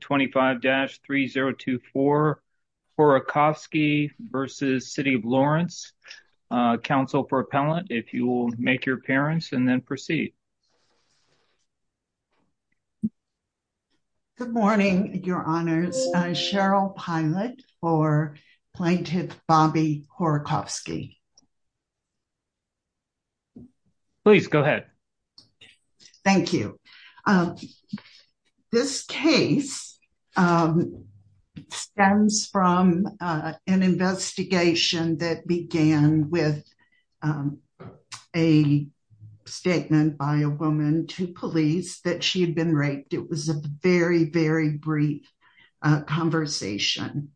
25-3024 Horokofsky v. City of Lawrence. Council for appellant, if you will make your appearance and then proceed. Good morning, your honors. Cheryl Pilot for plaintiff Bobby Horokofsky. Please go ahead. Thank you. This case stems from an investigation that began with a statement by a woman to police that she had been raped. It was a very, very brief conversation.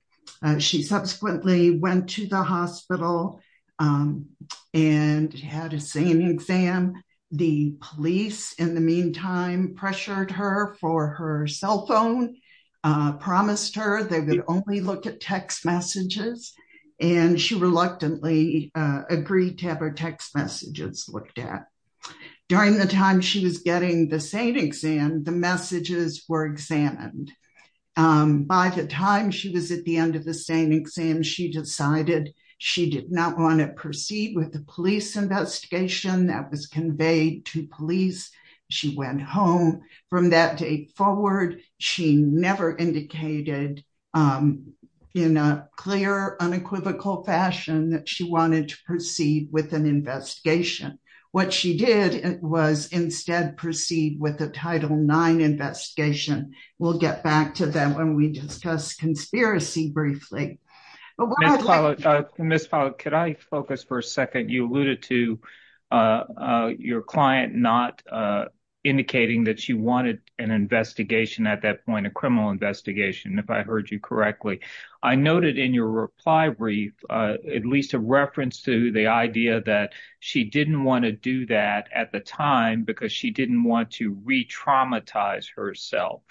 She subsequently went to the hospital and had a SANE exam. The police in the meantime pressured her for her cell phone, promised her they would only look at text messages and she reluctantly agreed to have her text messages looked at. During the time she was getting the SANE exam, the messages were examined. By the time she was at the end of the SANE exam, she decided she did not want to proceed with the police investigation that was conveyed to police. She went home. From that date forward, she never indicated in a clear, unequivocal fashion that wanted to proceed with an investigation. What she did was instead proceed with the Title IX investigation. We'll get back to that when we discuss conspiracy briefly. Ms. Pilot, could I focus for a second? You alluded to your client not indicating that she wanted an investigation at that point, a criminal investigation, if I heard you correctly. I noted in your reply brief at least a reference to the idea that she didn't want to do that at the time because she didn't want to re-traumatize herself.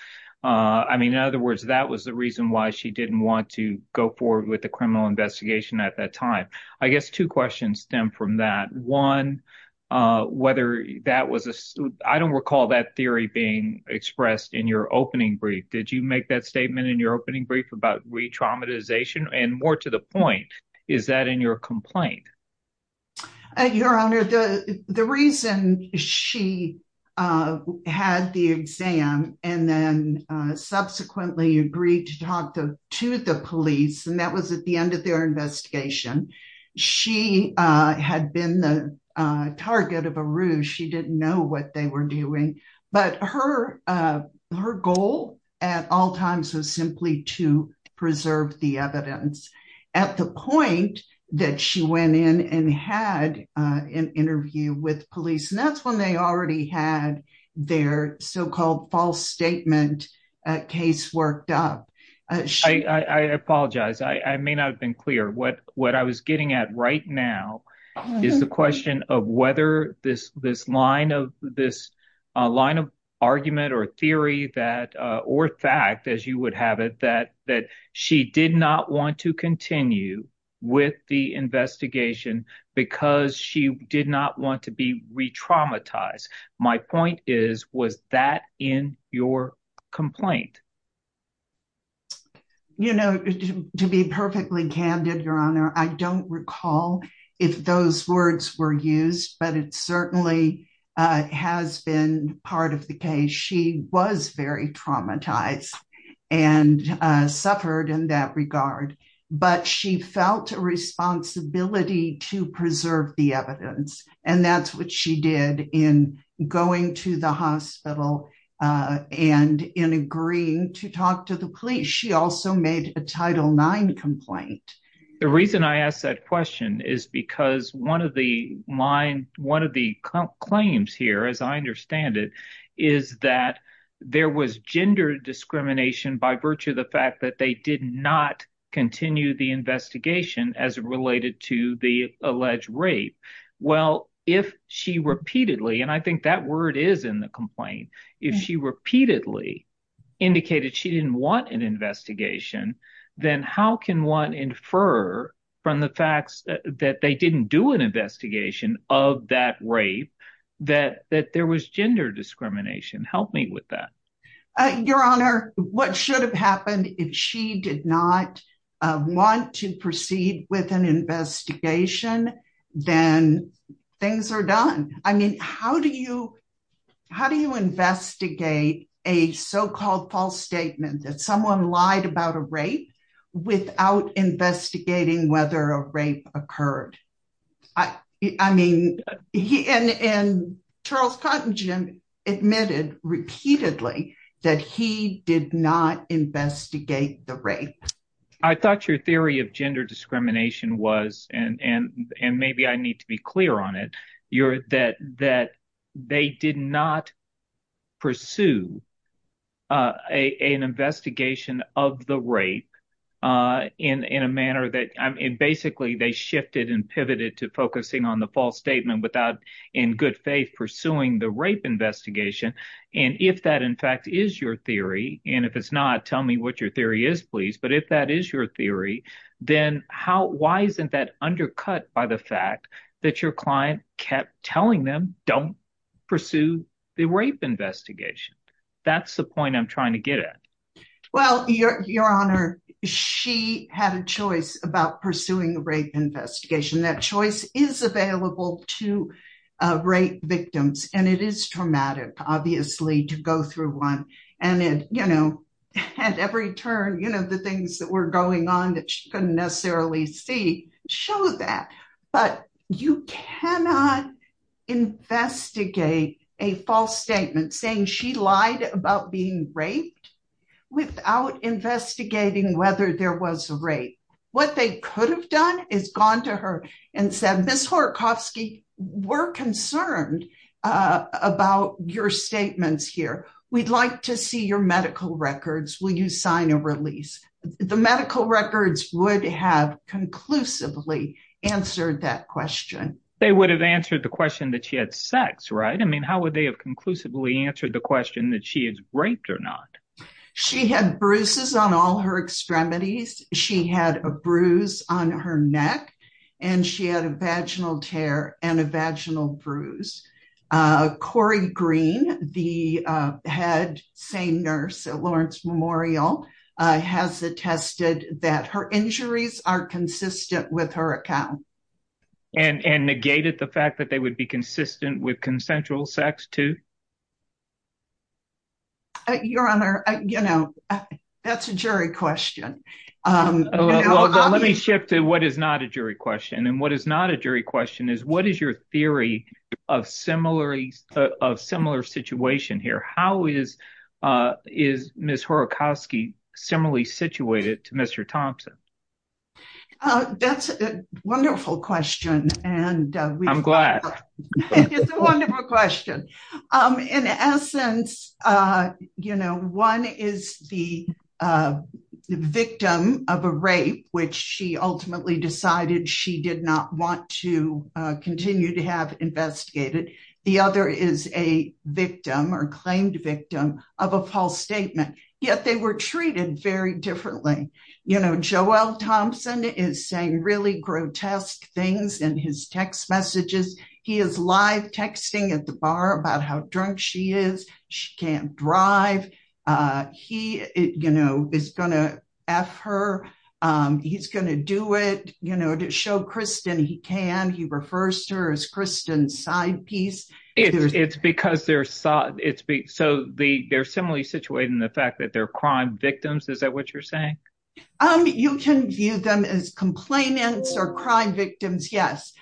In other words, that was the reason why she didn't want to go forward with the criminal investigation at that time. I guess two questions stem from that. One, I don't recall that theory being expressed in your opening brief. Did you make that statement in your opening brief about re-traumatization? And more to the point, is that in your complaint? Your Honor, the reason she had the exam and then subsequently agreed to talk to the police, and that was at the end of their investigation, she had been the target of a ruse. She didn't know what they were doing. But her goal at all times was simply to preserve the evidence at the point that she went in and had an interview with police. And that's when they already had their so-called false statement case worked up. I apologize. I may not have been clear. What I was getting at right now is the question of whether this line of argument or theory or fact, as you would have it, that she did not want to continue with the investigation because she did not want to be traumatized. My point is, was that in your complaint? You know, to be perfectly candid, Your Honor, I don't recall if those words were used, but it certainly has been part of the case. She was very traumatized and suffered in that regard, but she felt a responsibility to preserve the evidence. And that's what she did in going to the hospital and in agreeing to talk to the police. She also made a Title IX complaint. The reason I ask that question is because one of the claims here, as I understand it, is that there was gender discrimination by virtue of the fact that they did not continue the investigation as related to the alleged rape. Well, if she repeatedly, and I think that word is in the complaint, if she repeatedly indicated she didn't want an investigation, then how can one infer from the facts that they didn't do an investigation of that rape that there was gender discrimination? Help me with that. Your Honor, what should have happened if she did not want to proceed with an investigation, then things are done. I mean, how do you investigate a so-called false statement that someone lied about a rape without investigating whether a rape occurred? I mean, and Charles Cottingham admitted repeatedly that he did not investigate the rape. I thought your theory of gender discrimination was, and maybe I need to be clear on it, that they did not pursue an investigation of the rape in a manner that, basically, they shifted and pivoted to focusing on the false statement without, in good faith, pursuing the rape investigation. If that, in fact, is your theory, and if it's not, tell me what your theory is, please, but if that is your theory, then why isn't that undercut by the fact that your client kept telling them, don't pursue the rape investigation? That's the point I'm trying to get at. Well, your Honor, she had a choice about pursuing a rape investigation. That choice is available to rape victims, and it is traumatic, obviously, to go through one, and at every turn, the things that were going on that she couldn't necessarily see show that, but you cannot investigate a false statement saying she lied about being raped without investigating whether there was a rape. What they could have done is gone to her and said, Ms. Horakofsky, we're concerned about your statements here. We'd like to see your medical records. Will you sign a release? The medical records would have conclusively answered that question. They would have answered the question that she had sex, right? I mean, how would they have conclusively answered the question that she is raped or not? She had bruises on all her extremities. She had a bruise on her neck, and she had a vaginal tear and a vaginal bruise. Corey Green, the head SANE nurse at Lawrence Memorial, has attested that her injuries are consistent with her account. And negated the fact that they would be consistent with consensual sex, too? Your Honor, that's a jury question. Let me shift to what is not a jury question, and what is not a jury question is, what is your theory of similar situation here? How is Ms. Horakofsky similarly situated to Mr. Thompson? That's a wonderful question. I'm glad. It is a wonderful question. In essence, one is the victim of a rape, which she ultimately decided she did not want to continue to have investigated. The other is a victim or claimed victim of a false confession. Mr. Thompson is saying really grotesque things in his text messages. He is live texting at the bar about how drunk she is. She can't drive. He is going to F her. He's going to do it to show Kristen he can. He refers to her as Kristen's side piece. It's because they're similarly situated in the fact that they're crime victims. Is that what you're saying? You can view them as complainants or crime victims, yes.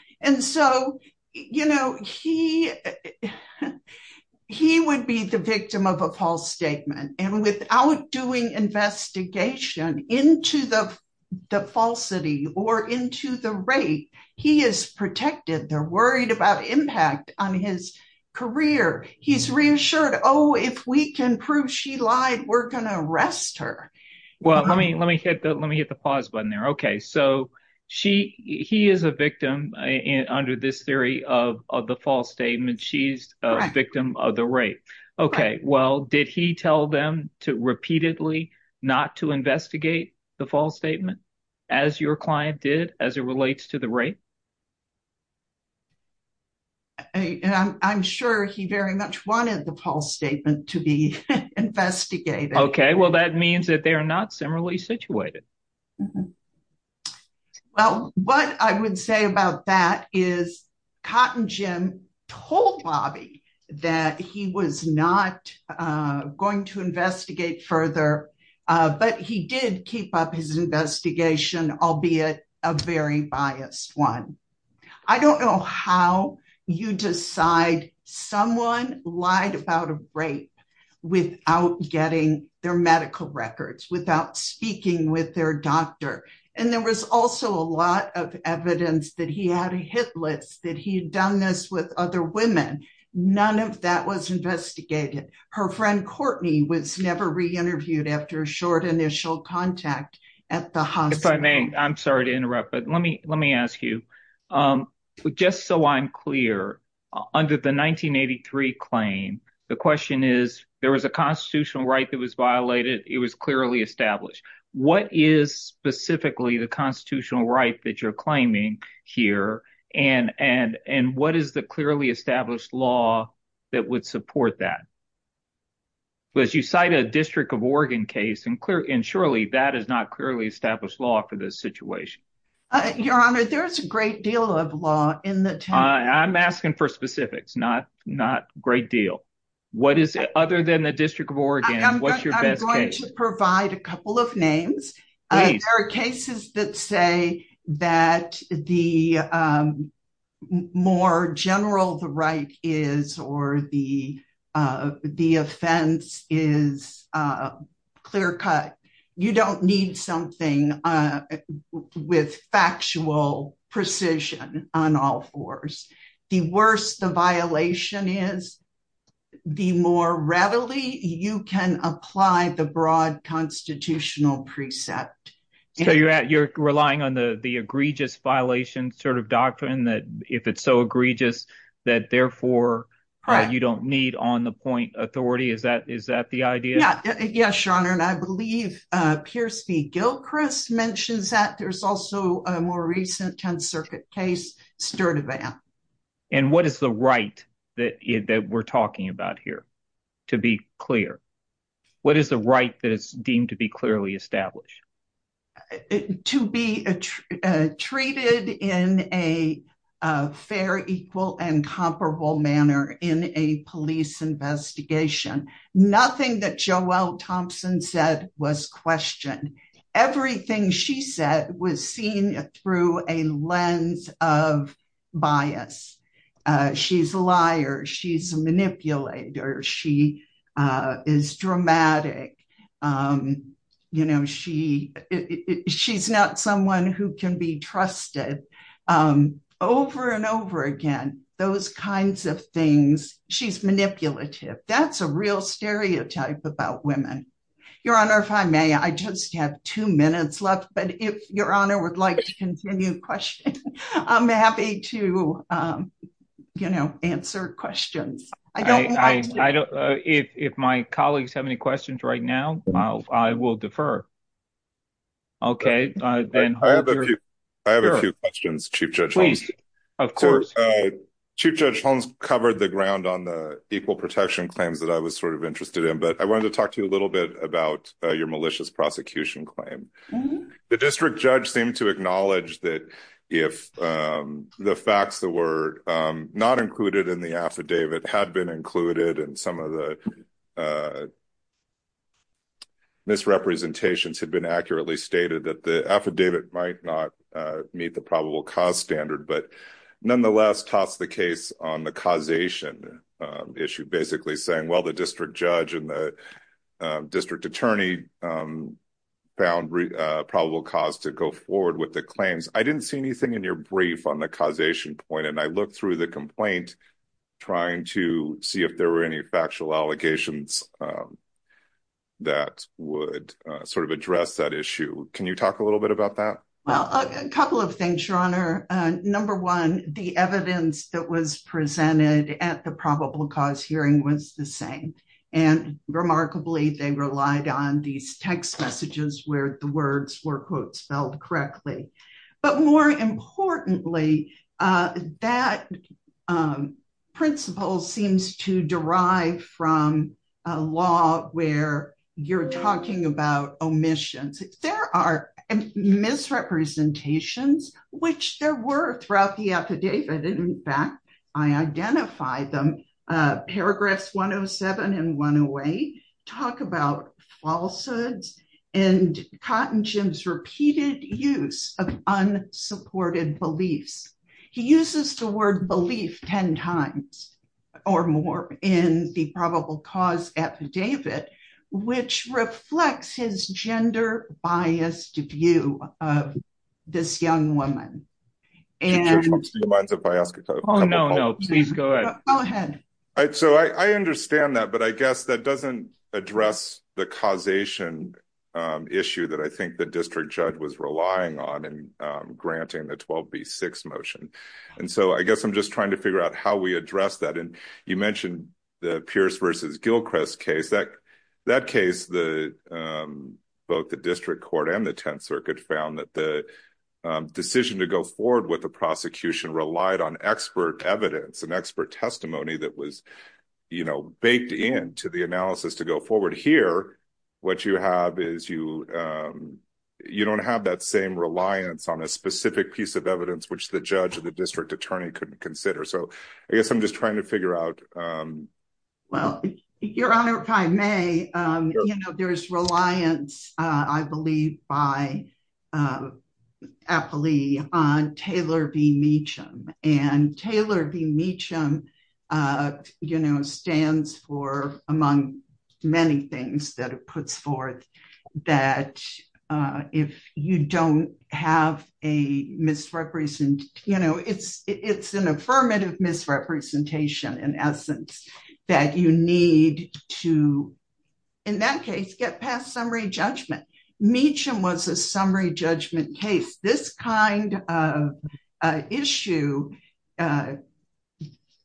He would be the victim of a false statement. Without doing investigation into the falsity or into the rape, he is protected. They're worried about impact on his career. He's reassured, if we can prove she lied, we're going to arrest her. Let me hit the pause button there. He is a victim under this theory of the false statement. She's a victim of the rape. Did he tell them to repeatedly not to investigate the false statement as your client did as it relates to the rape? I'm sure he very much wanted the false statement to be investigated. Okay. Well, that means that they are not similarly situated. Well, what I would say about that is Cotton Jim told Bobby that he was not going to investigate I don't know how you decide someone lied about a rape without getting their medical records, without speaking with their doctor. There was also a lot of evidence that he had a hit list, that he had done this with other women. None of that was investigated. Her friend Courtney was never re-interviewed after a short initial contact at the hospital. I'm sorry to interrupt, but let me ask you. Just so I'm clear, under the 1983 claim, the question is, there was a constitutional right that was violated. It was clearly established. What is specifically the constitutional right that you're claiming here? What is the clearly established law that would support that? Well, as you cite a District of Oregon case, and surely that is not clearly established law for this situation. Your Honor, there's a great deal of law in the- I'm asking for specifics, not great deal. Other than the District of Oregon, what's your best case? I'm going to provide a couple of names. There are cases that say that the more general the right is, or the offense is clear cut. You don't need something with factual precision on all fours. The worse the violation is, the more readily you can apply the broad constitutional precept. You're relying on the egregious violation doctrine, that if it's so egregious, that therefore you don't need on-the-point authority. Is that the idea? Yes, Your Honor. I believe Pierce v. Gilchrist mentions that. There's also a more recent 10th case, Sturtevant. What is the right that we're talking about here, to be clear? What is the right that is deemed to be clearly established? To be treated in a fair, equal, and comparable manner in a police investigation. Nothing that Thompson said was questioned. Everything she said was seen through a lens of bias. She's a liar. She's a manipulator. She is dramatic. She's not someone who can be trusted. Over and over again, those kinds of things. She's manipulative. That's a real stereotype about women. Your Honor, if I may, I just have two minutes left, but if Your Honor would like to continue questioning, I'm happy to answer questions. If my colleagues have any questions right now, I will defer. I have a few questions, Chief Judge Holmes. Chief Judge Holmes covered the ground on the equal protection claims that I was sort of interested in, but I wanted to talk to you a little bit about your malicious prosecution claim. The district judge seemed to acknowledge that if the facts that were not included in the affidavit had been included in some of the misrepresentations had been accurately stated that the affidavit might not meet the probable cause standard, but nonetheless tossed the case on the causation issue, basically saying, well, the district judge and the district attorney found probable cause to go forward with the claims. I didn't see anything in your brief on the causation point, and I looked through the complaint trying to see if there were any factual allegations that would sort of address that issue. Can you talk a little bit about that? Well, a couple of things, Your Honor. Number one, the evidence that was presented at the probable cause hearing was the same, and remarkably, they relied on these text messages where the words were, quote, spelled correctly. But more importantly, that principle seems to derive from a law where you're talking about omissions. There are misrepresentations, which there were throughout the affidavit. In identifying them, paragraphs 107 and 108 talk about falsehoods and Cotton Jim's repeated use of unsupported beliefs. He uses the word belief 10 times or more in the probable cause affidavit, which reflects his gender-biased view of this young woman. So I understand that, but I guess that doesn't address the causation issue that I think the district judge was relying on in granting the 12B6 motion. And so I guess I'm just trying to figure out how we address that. And you mentioned the Pierce v. Gilchrist case. That case, both the district court and the Tenth Circuit found that the decision to go forward with the prosecution relied on expert evidence and expert testimony that was baked into the analysis to go forward. Here, what you have is you don't have that same reliance on a specific piece of evidence which the judge or the district attorney couldn't consider. So I guess I'm just trying to figure out. Well, your honor, if I may, there's reliance, I believe by Apolli on Taylor v. Meacham. And Taylor v. Meacham stands for among many things that it puts forth that if you don't have a misrepresentation, you know, it's an affirmative misrepresentation in essence that you need to, in that case, get past summary judgment. Meacham was a summary judgment case. This kind of issue,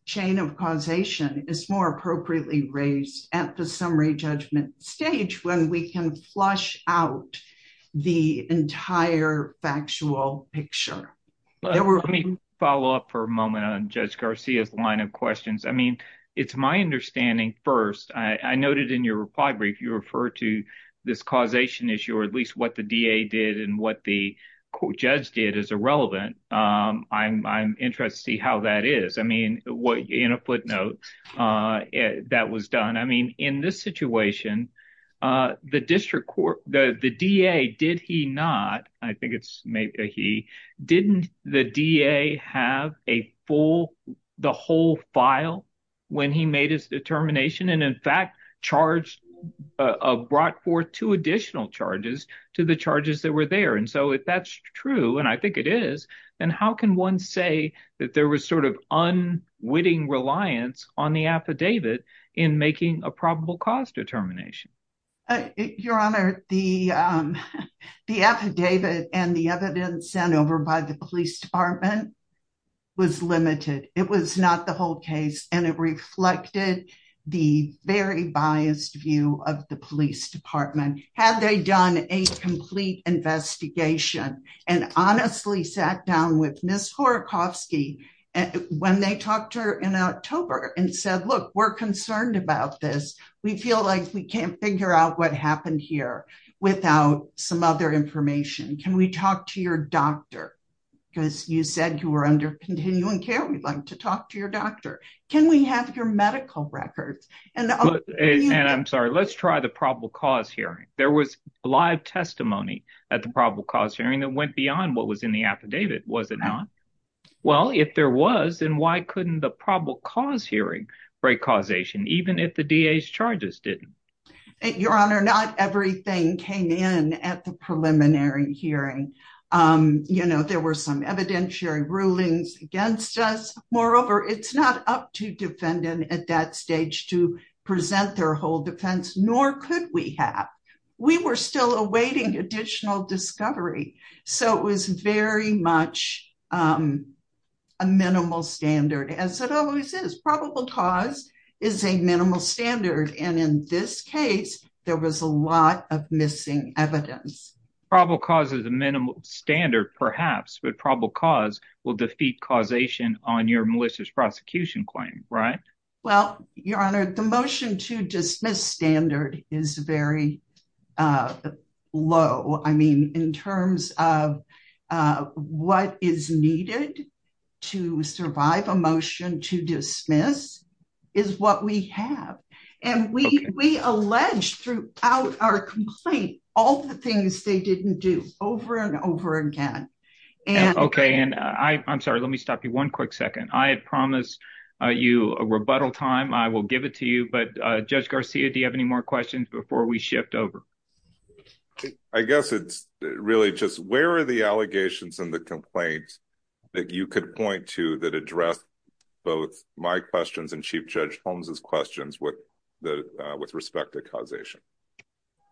chain of causation, is more appropriately raised at the summary judgment stage when we can flush out the entire factual picture. Let me follow up for a moment on Judge Garcia's line of questions. I mean, it's my understanding first, I noted in your reply brief, you referred to this causation issue, or at least what the DA did and what the judge did is irrelevant. I'm interested to see how that is. I mean, the district court, the DA, did he not, I think it's maybe a he, didn't the DA have a full, the whole file when he made his determination and in fact charged, brought forth two additional charges to the charges that were there? And so if that's true, and I think it is, then how can one say that there was sort of unwitting reliance on the affidavit in making a probable cause determination? Your Honor, the affidavit and the evidence sent over by the police department was limited. It was not the whole case and it reflected the very biased view of the police department. Had they done a complete investigation and honestly sat down with Ms. We feel like we can't figure out what happened here without some other information. Can we talk to your doctor? Because you said you were under continuing care. We'd like to talk to your doctor. Can we have your medical records? And I'm sorry, let's try the probable cause hearing. There was live testimony at the probable cause hearing that went beyond what was in the affidavit, was it not? Well, if there was, then why couldn't the probable cause hearing break causation? Even if the DA's charges didn't. Your Honor, not everything came in at the preliminary hearing. You know, there were some evidentiary rulings against us. Moreover, it's not up to defendant at that stage to present their whole defense, nor could we have, we were still awaiting additional discovery. So it was very much a minimal standard as it always is. Probable cause is a minimal standard. And in this case, there was a lot of missing evidence. Probable cause is a minimal standard perhaps, but probable cause will defeat causation on your malicious prosecution claim, right? Well, Your Honor, the motion to dismiss standard is very low. I mean, in terms of what is needed to survive a motion to dismiss is what we have. And we allege throughout our complaint, all the things they didn't do over and over again. Okay. And I'm sorry, let me stop you for one quick second. I had promised you a rebuttal time. I will give it to you, but Judge Garcia, do you have any more questions before we shift over? I guess it's really just where are the allegations and the complaints that you could point to that address both my questions and Chief Judge Holmes's questions with respect to causation?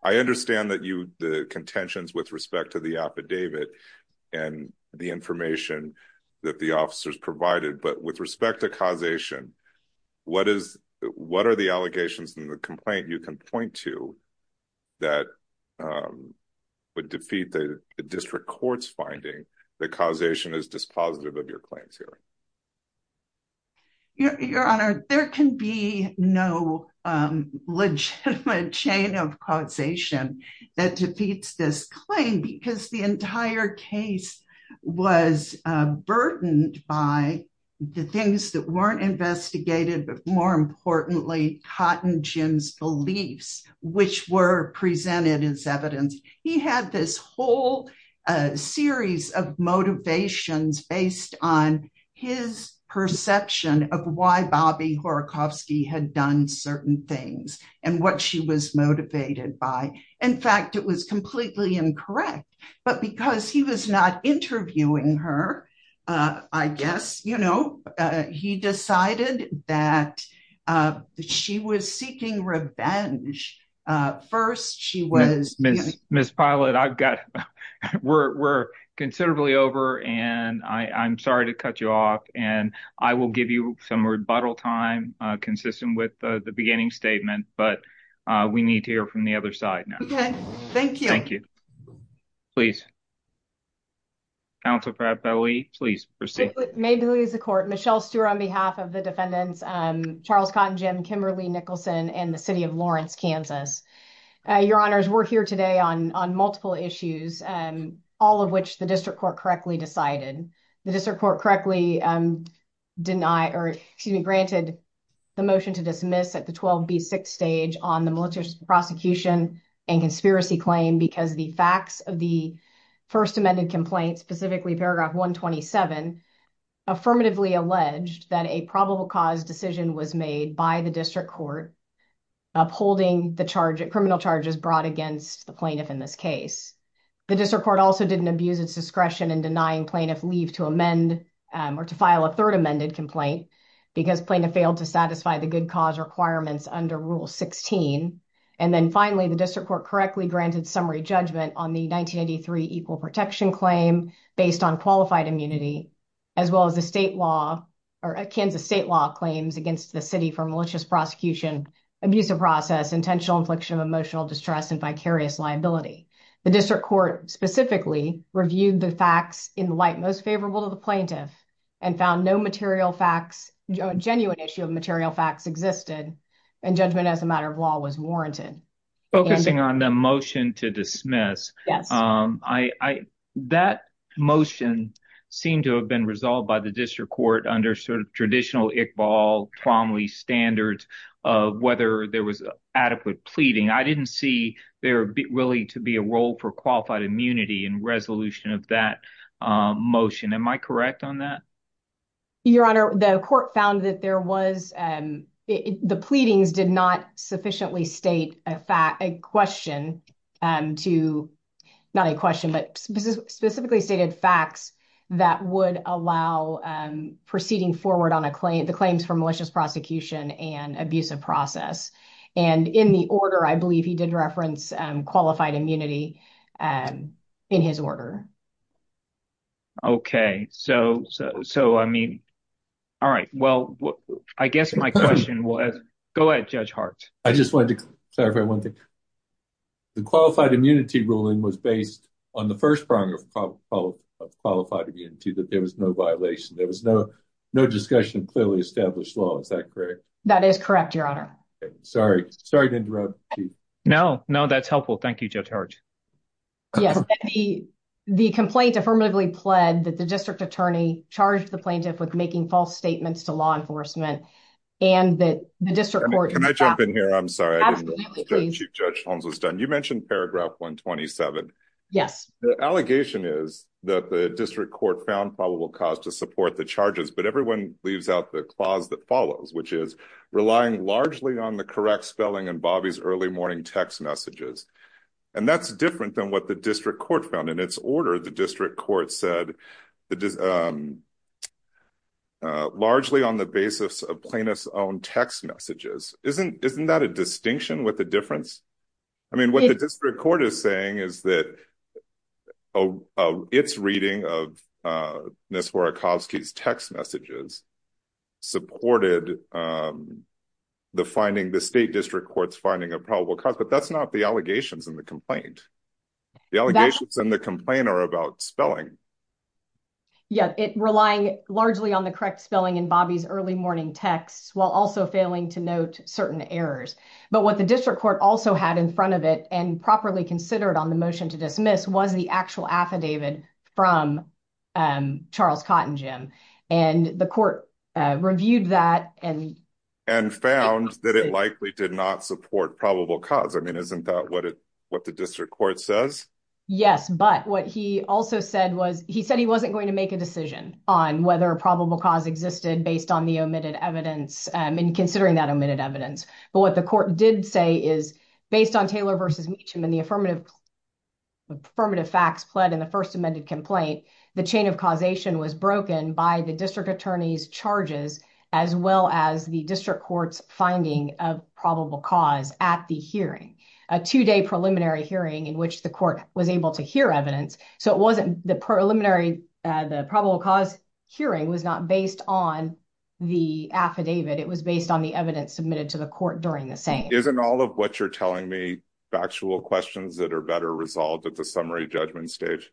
I understand that you, the contentions with respect to the affidavit and the information that the officers provided, but with respect to causation, what are the allegations in the complaint you can point to that would defeat the district court's finding that causation is dispositive of your claims here? Your Honor, there can be no legitimate chain of causation that defeats this claim because the entire case was burdened by the things that weren't investigated, but more importantly, Cotton Jim's beliefs, which were presented as evidence. He had this whole series of motivations based on his perception of why Bobby Horakofsky had done certain things and what she was motivated by. In fact, it was completely incorrect, but because he was not interviewing her, I guess, you know, he decided that she was seeking revenge. First, she was... Ms. Pilot, I've got... We're considerably over, and I'm sorry to cut you off, and I will give you some rebuttal time consistent with the beginning statement, but we need to hear from the other side now. Okay. Thank you. Thank you. Please. Counsel Fabbelli, please proceed. May it please the court. Michelle Stewart on behalf of the defendants, Charles Cotton Jim, Kimberly Nicholson, and the City of Lawrence, Kansas. Your honors, we're here today on multiple issues, all of which the district court correctly decided. The district court correctly denied, or excuse me, granted the motion to dismiss at the 12B6 stage on the military prosecution and conspiracy claim because the facts of the first amended complaint, specifically paragraph 127, affirmatively alleged that a probable cause decision was made by the district court upholding the charge, criminal charges brought against the plaintiff in this case. The district court also didn't abuse its discretion in denying plaintiff leave to amend or to file a third amended complaint because plaintiff failed to satisfy the good cause requirements under rule 16. And then finally, the district court correctly granted summary judgment on the 1983 equal protection claim based on qualified immunity, as well as the state law or Kansas state law claims against the city for malicious prosecution, abusive process, intentional infliction of emotional distress, and vicarious liability. The district court specifically reviewed the facts in the light most favorable to the plaintiff and found no material facts, genuine issue of material facts existed, and judgment as a matter of law was warranted. Focusing on the motion to dismiss, I, that motion seemed to have been resolved by the district court under sort of traditional Iqbal-Tromley standards of whether there was adequate pleading. I didn't see there really to be a role for qualified immunity in resolution of that motion. Am I correct on that? Your honor, the court found that there was, the pleadings did not sufficiently state a fact, question to, not a question, but specifically stated facts that would allow proceeding forward on a claim, the claims for malicious prosecution and abusive process. And in the order, I believe he did reference qualified immunity in his order. Okay. So, I mean, all right. Well, I guess my question was, go ahead, Judge Hart. I just wanted to clarify one thing. The qualified immunity ruling was based on the first prong of qualified immunity, that there was no violation. There was no discussion of clearly established law. Is that correct? That is correct, your honor. Sorry to interrupt you. No, no, that's helpful. Thank you, Judge Hart. Yes. The complaint affirmatively pled that the district attorney charged the plaintiff with making false statements to law enforcement and that the district court- mentioned paragraph 127. Yes. The allegation is that the district court found probable cause to support the charges, but everyone leaves out the clause that follows, which is relying largely on the correct spelling and Bobby's early morning text messages. And that's different than what the district court found. In its order, the district court said largely on the basis of text messages. Isn't that a distinction with the difference? I mean, what the district court is saying is that it's reading of Ms. Horakowski's text messages supported the finding, the state district court's finding of probable cause, but that's not the allegations in the complaint. The allegations in the complaint are about spelling. Yeah. It relying largely on the morning texts while also failing to note certain errors. But what the district court also had in front of it and properly considered on the motion to dismiss was the actual affidavit from Charles Cottingham. And the court reviewed that and- And found that it likely did not support probable cause. I mean, isn't that what the district court says? Yes. But what he also said was he said he wasn't going to make a decision on whether a probable cause existed based on the omitted evidence and considering that omitted evidence. But what the court did say is based on Taylor versus Meacham and the affirmative facts pled in the first amended complaint, the chain of causation was broken by the district attorney's charges, as well as the district court's finding of probable cause at the hearing. A two day preliminary hearing in which the court was able to hear evidence. So it wasn't the preliminary, the probable cause hearing was not based on the affidavit. It was based on the evidence submitted to the court during the same. Isn't all of what you're telling me factual questions that are better resolved at the summary judgment stage?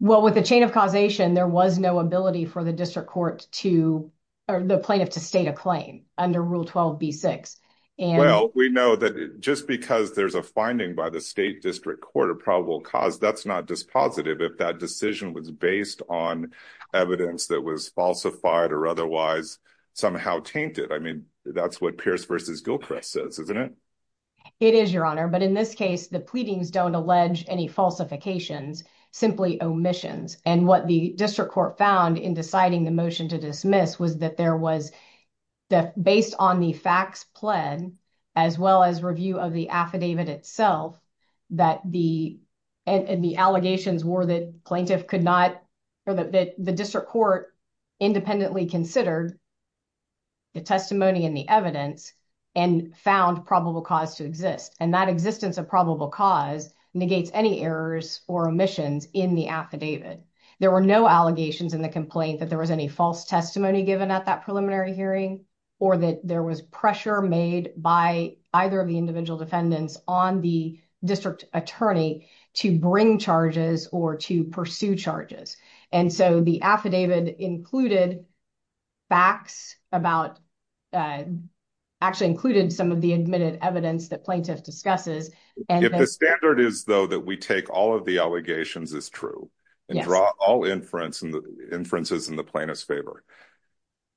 Well, with the chain of causation, there was no ability for the district court to or the plaintiff to state a claim under rule 12 B6. And- Well, we know that just because there's a finding by the state district court of probable cause, that's not dispositive if that decision was based on evidence that was falsified or otherwise somehow tainted. I mean, that's what Pierce versus Gilchrist says, isn't it? It is your honor. But in this case, the pleadings don't allege any falsifications, simply omissions. And what the district court found in deciding the motion to dismiss was that there was based on the facts pled as well as review of the affidavit itself, that the allegations were that plaintiff could not or that the district court independently considered the testimony and the evidence and found probable cause to exist. And that existence of probable cause negates any errors or omissions in the affidavit. There were no allegations in the complaint that there was any false testimony given at that preliminary hearing or that there was pressure made by either of the individual defendants on the district attorney to bring charges or to pursue charges. And so the affidavit included facts about, actually included some of the admitted evidence that plaintiff discusses and- If the standard is though that we take all of the allegations as true and draw all inferences in the plaintiff's favor,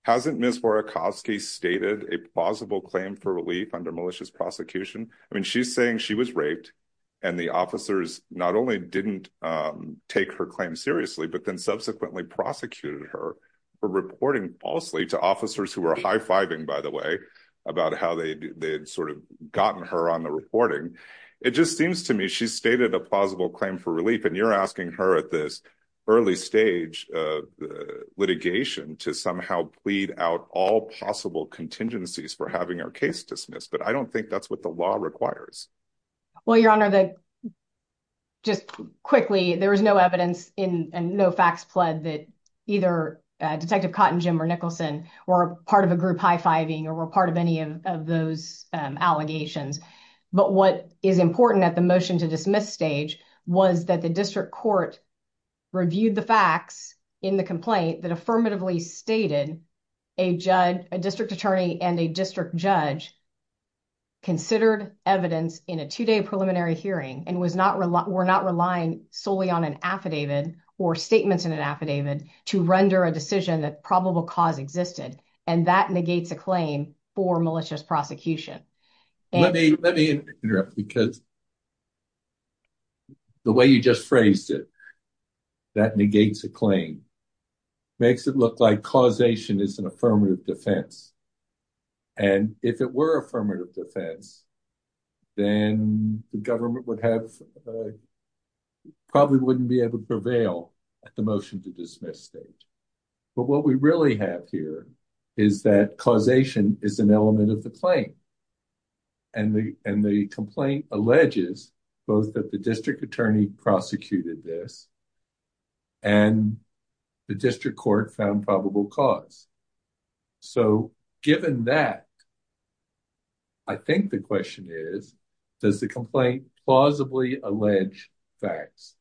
hasn't Ms. Warakoski stated a plausible claim for relief under malicious prosecution? I mean, she's saying she was raped and the officers not only didn't take her claim seriously, but then subsequently prosecuted her for reporting falsely to officers who were high-fiving, by the way, about how they'd sort of gotten her on the reporting. It just seems to me she's stated a plausible claim for relief and you're asking her at this early stage of litigation to somehow plead out all possible contingencies for having her case dismissed. But I don't think that's what the law requires. Well, Your Honor, just quickly, there was no evidence and no facts pled that either Detective Cotton, Jim, or Nicholson were part of a group high-fiving or were part of any of those allegations. But what is important at the motion to dismiss stage was that the district court reviewed the facts in the complaint that affirmatively stated a district attorney and a district judge considered evidence in a two-day preliminary hearing and were not relying solely on an affidavit or statements in an affidavit to render a decision that probable cause existed. And that negates a claim for malicious prosecution. Let me interrupt because the way you just phrased it, that negates a claim, makes it look like causation is an affirmative defense. And if it were affirmative defense, then the government would have, probably wouldn't be able to prevail at the motion to dismiss stage. But what we really have here is that causation is an element of the claim. And the complaint alleges both that the district attorney prosecuted this and the district court found probable cause. So given that, I think the question is, does the complaint plausibly allege facts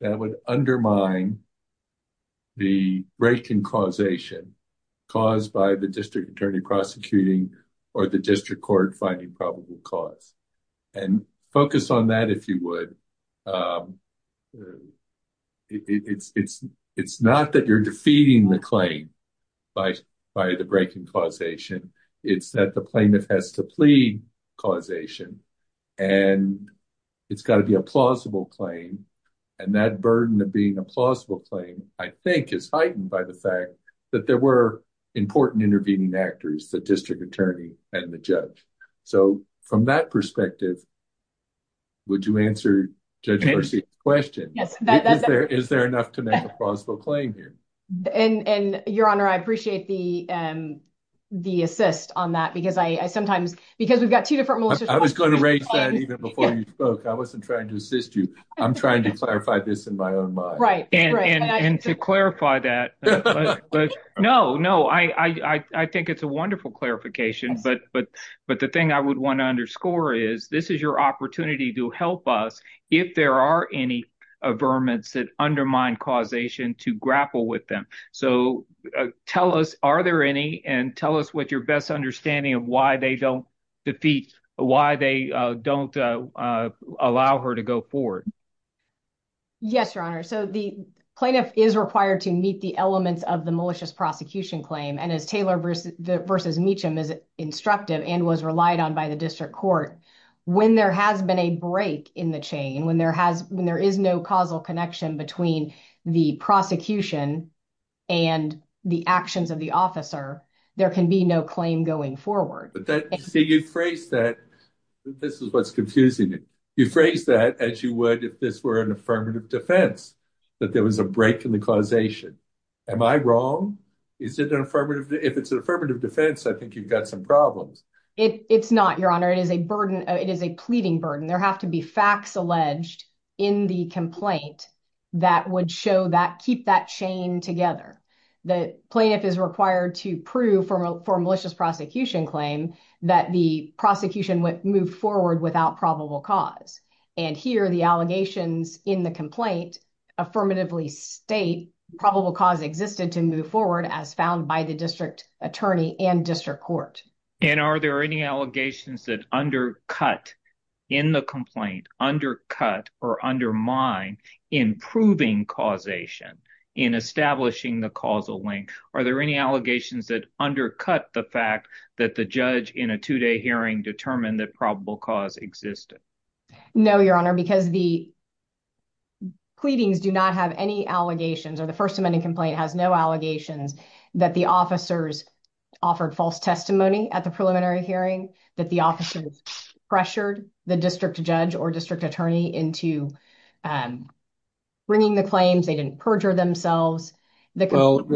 that would undermine the breaking causation caused by the district attorney prosecuting or the district court finding probable cause? And focus on that if you would. It's not that you're defeating the claim by the breaking causation. It's that the plaintiff has to plead causation and it's got to be a plausible claim. And that burden of being a plausible claim, I think is heightened by the fact that there were important intervening actors, the district attorney and the judge. So from that perspective, would you answer Judge Garcia's question? Is there enough to make a plausible claim here? And your honor, I appreciate the assist on that because I sometimes, because we've got two different... I was going to raise that even before you spoke. I wasn't trying to assist you. I'm trying to clarify this in my own mind. And to clarify that, no, no. I think it's a wonderful clarification, but the thing I would want to underscore is this is your opportunity to help us if there are any averments that undermine causation to grapple with them. So tell us, are there any and tell us what your best understanding of why they don't allow her to go forward? Yes, your honor. So the plaintiff is required to meet the elements of the malicious prosecution claim. And as Taylor versus Meacham is instructive and was relied on by the district court, when there has been a break in the chain, when there is no causal connection between the prosecution and the actions of the officer, there can be no going forward. So you phrase that, this is what's confusing me. You phrase that as you would if this were an affirmative defense, that there was a break in the causation. Am I wrong? Is it an affirmative? If it's an affirmative defense, I think you've got some problems. It's not, your honor. It is a burden. It is a pleading burden. There have to be facts alleged in the complaint that would show that, keep that chain together. The plaintiff is required to prove for the malicious prosecution claim that the prosecution would move forward without probable cause. And here, the allegations in the complaint affirmatively state probable cause existed to move forward as found by the district attorney and district court. And are there any allegations that undercut in the complaint, undercut or undermine improving causation in establishing the causal link? Are there any allegations that undercut the fact that the judge in a two-day hearing determined that probable cause existed? No, your honor, because the pleadings do not have any allegations or the First Amendment complaint has no allegations that the officers offered false testimony at the preliminary hearing, that the officers pressured the district judge or district attorney into bringing the claims. They didn't perjure themselves. Well,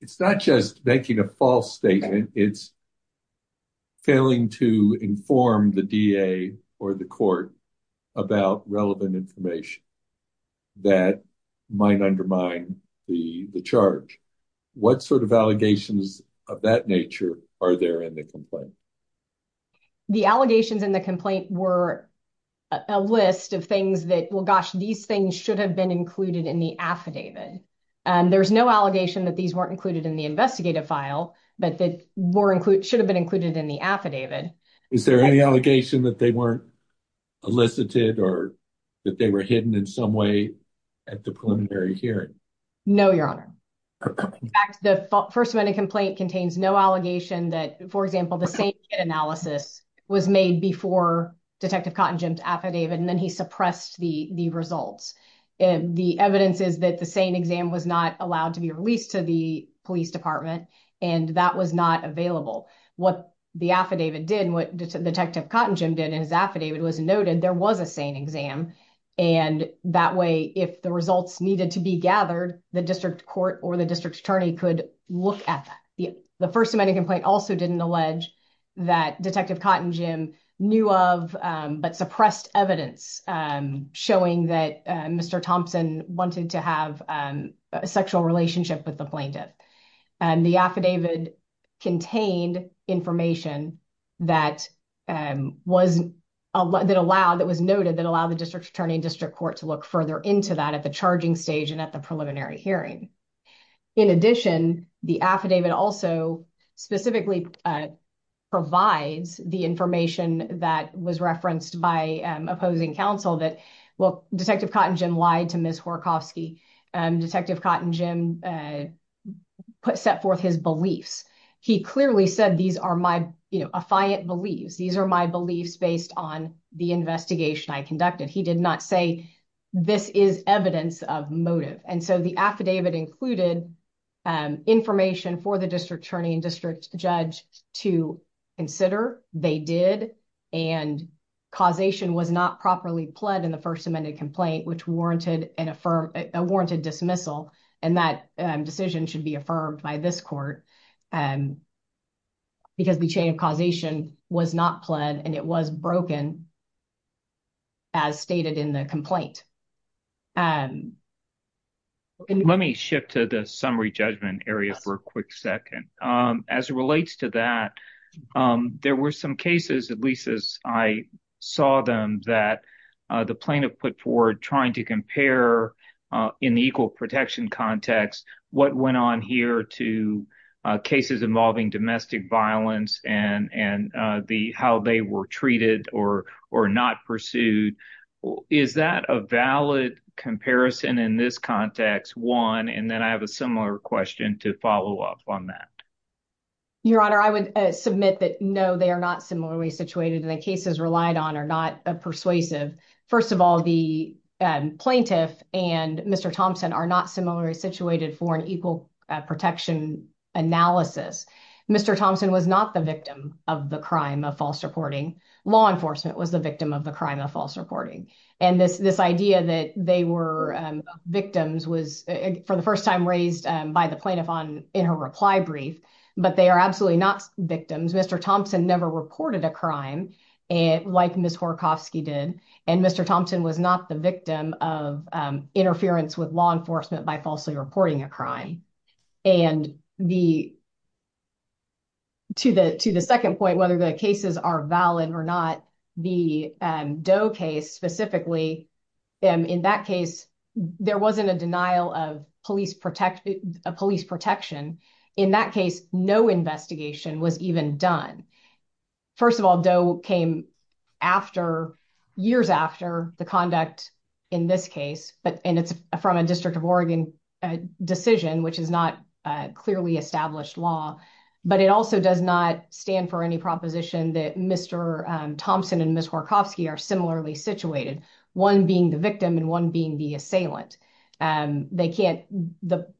it's not just making a false statement. It's failing to inform the DA or the court about relevant information that might undermine the charge. What sort of allegations of that are there in the complaint? The allegations in the complaint were a list of things that, well, gosh, these things should have been included in the affidavit. There's no allegation that these weren't included in the investigative file, but that should have been included in the affidavit. Is there any allegation that they weren't elicited or that they were hidden in some way at the preliminary hearing? No, your honor. In fact, the First Amendment complaint contains no allegation that, for example, the same analysis was made before Detective Cottingham's affidavit and then he suppressed the results. The evidence is that the same exam was not allowed to be released to the police department and that was not available. What the affidavit did and what Detective Cottingham did in his affidavit was noted there was a sane exam. That way, if the results needed to be gathered, the district court or the district attorney could look at that. The First Amendment complaint also didn't allege that Detective Cottingham knew of but suppressed evidence showing that Mr. Thompson wanted to have a sexual relationship with the plaintiff. The affidavit contained information that was noted that allowed the district attorney and district court to look further into that at the charging stage and at the preliminary hearing. In addition, the affidavit also specifically provides the information that was referenced by opposing counsel that Detective Cottingham lied to Ms. Horakofsky. Detective Cottingham set forth his beliefs. He clearly said these are my affiant beliefs. These are my beliefs based on the investigation I conducted. He did not say this is evidence of motive. The affidavit included information for the district attorney and district judge to consider. They did and causation was not properly pled in the First Amendment complaint which warranted a dismissal and that decision should be affirmed by this court because the chain of causation was not pled and it was broken as stated in the complaint. Let me shift to the summary judgment area for a quick second. As it relates to that, there were some cases, at least as I saw them, that the plaintiff put forward trying to compare in the equal protection context what went on here to cases involving domestic violence and how they were treated or not pursued. Is that a valid comparison in this context, one, and then I have a similar question to follow up on that. Your Honor, I would submit that no, they are not similarly situated and the cases relied on are persuasive. First of all, the plaintiff and Mr. Thompson are not similarly situated for an equal protection analysis. Mr. Thompson was not the victim of the crime of false reporting. Law enforcement was the victim of the crime of false reporting. This idea that they were victims was for the first time raised by the plaintiff in her reply brief, but they are absolutely not victims. Mr. Thompson never reported a crime like Ms. Horakofsky did, and Mr. Thompson was not the victim of interference with law enforcement by falsely reporting a crime. To the second point, whether the cases are valid or not, the Doe case specifically, in that case, there wasn't a denial of police protection. In that case, no investigation was even done. First of all, Doe came years after the conduct in this case, and it's from a District of Oregon decision, which is not clearly established law, but it also does not stand for any proposition that Mr. Thompson and Ms. Horakofsky are similarly situated, one being the victim and one being the assailant.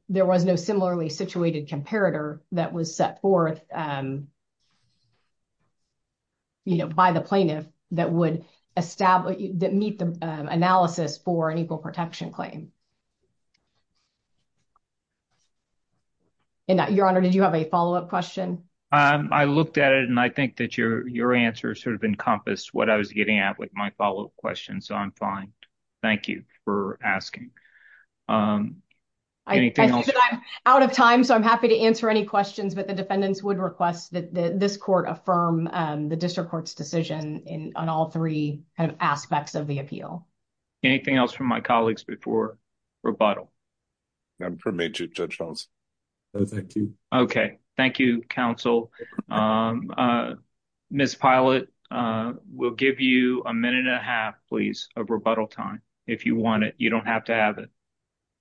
There was no similarly situated comparator that was set forth by the plaintiff that would meet the analysis for an equal protection claim. Your Honor, did you have a follow-up question? I looked at it, and I think that your answer sort of encompassed what I was getting at with my follow-up question, so I'm fine. Thank you for asking. I see that I'm out of time, so I'm happy to answer any questions, but the defendants would request that this court affirm the District Court's decision on all three aspects of the appeal. Anything else from my colleagues before rebuttal? I'm permitted to, Judge Charles. No, thank you. Okay. Thank you, counsel. Ms. Pilot, we'll give you a minute and a half, please, of rebuttal time if you want it. You don't have to have it.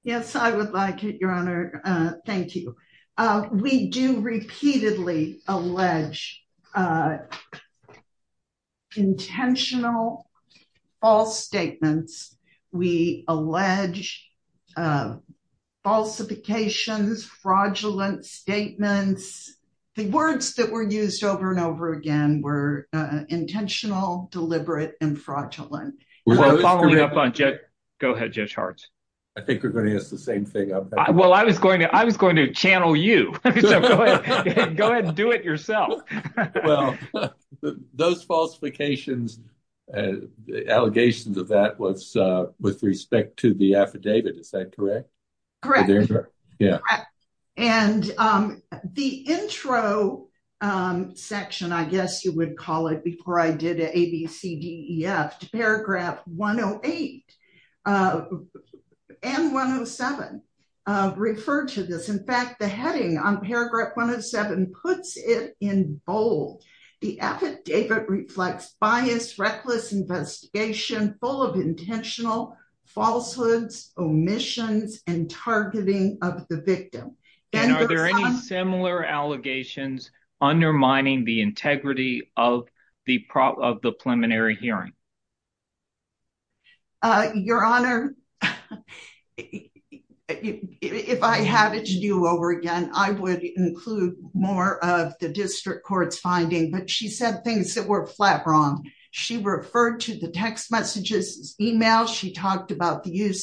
Yes, I would like it, Your Honor. Thank you. We do repeatedly allege intentional false statements. We allege falsifications, fraudulent statements. The words that were used over and over again were intentional, deliberate, and fraudulent. We're following up on... Go ahead, Judge Hart. I think we're going to use the same thing. Well, I was going to channel you. Go ahead and do it yourself. Well, those falsifications, allegations of that was with respect to the affidavit. Is that correct? Correct. Yeah. And the intro section, I guess you would call it before I did ABCDEF to paragraph 108 and 107 referred to this. In fact, the heading on paragraph 107 puts it in bold. The affidavit reflects bias, reckless investigation full of intentional falsehoods, omissions, and targeting of the victim. And are there any similar allegations undermining the integrity of the preliminary hearing? Your Honor, if I had it to do over again, I would include more of the district court's finding, but she said things that were flat wrong. She referred to the text messages, emails. She talked about the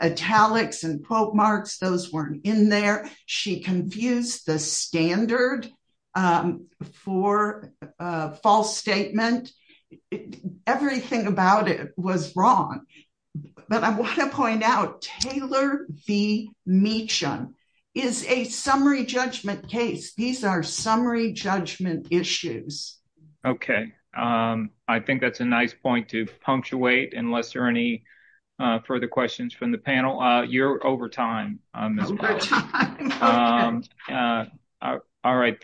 italics and quote marks. Those weren't in there. She confused the standard for a false statement. Everything about it was wrong. But I want to point out, Taylor v. Meacham is a summary judgment case. These are summary judgment issues. Okay. I think that's a nice point to punctuate, unless there are any further questions from the panel. You're over time. All right.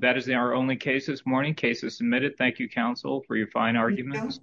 That is our only case this morning. Case is submitted. Thank you, counsel, for your fine arguments.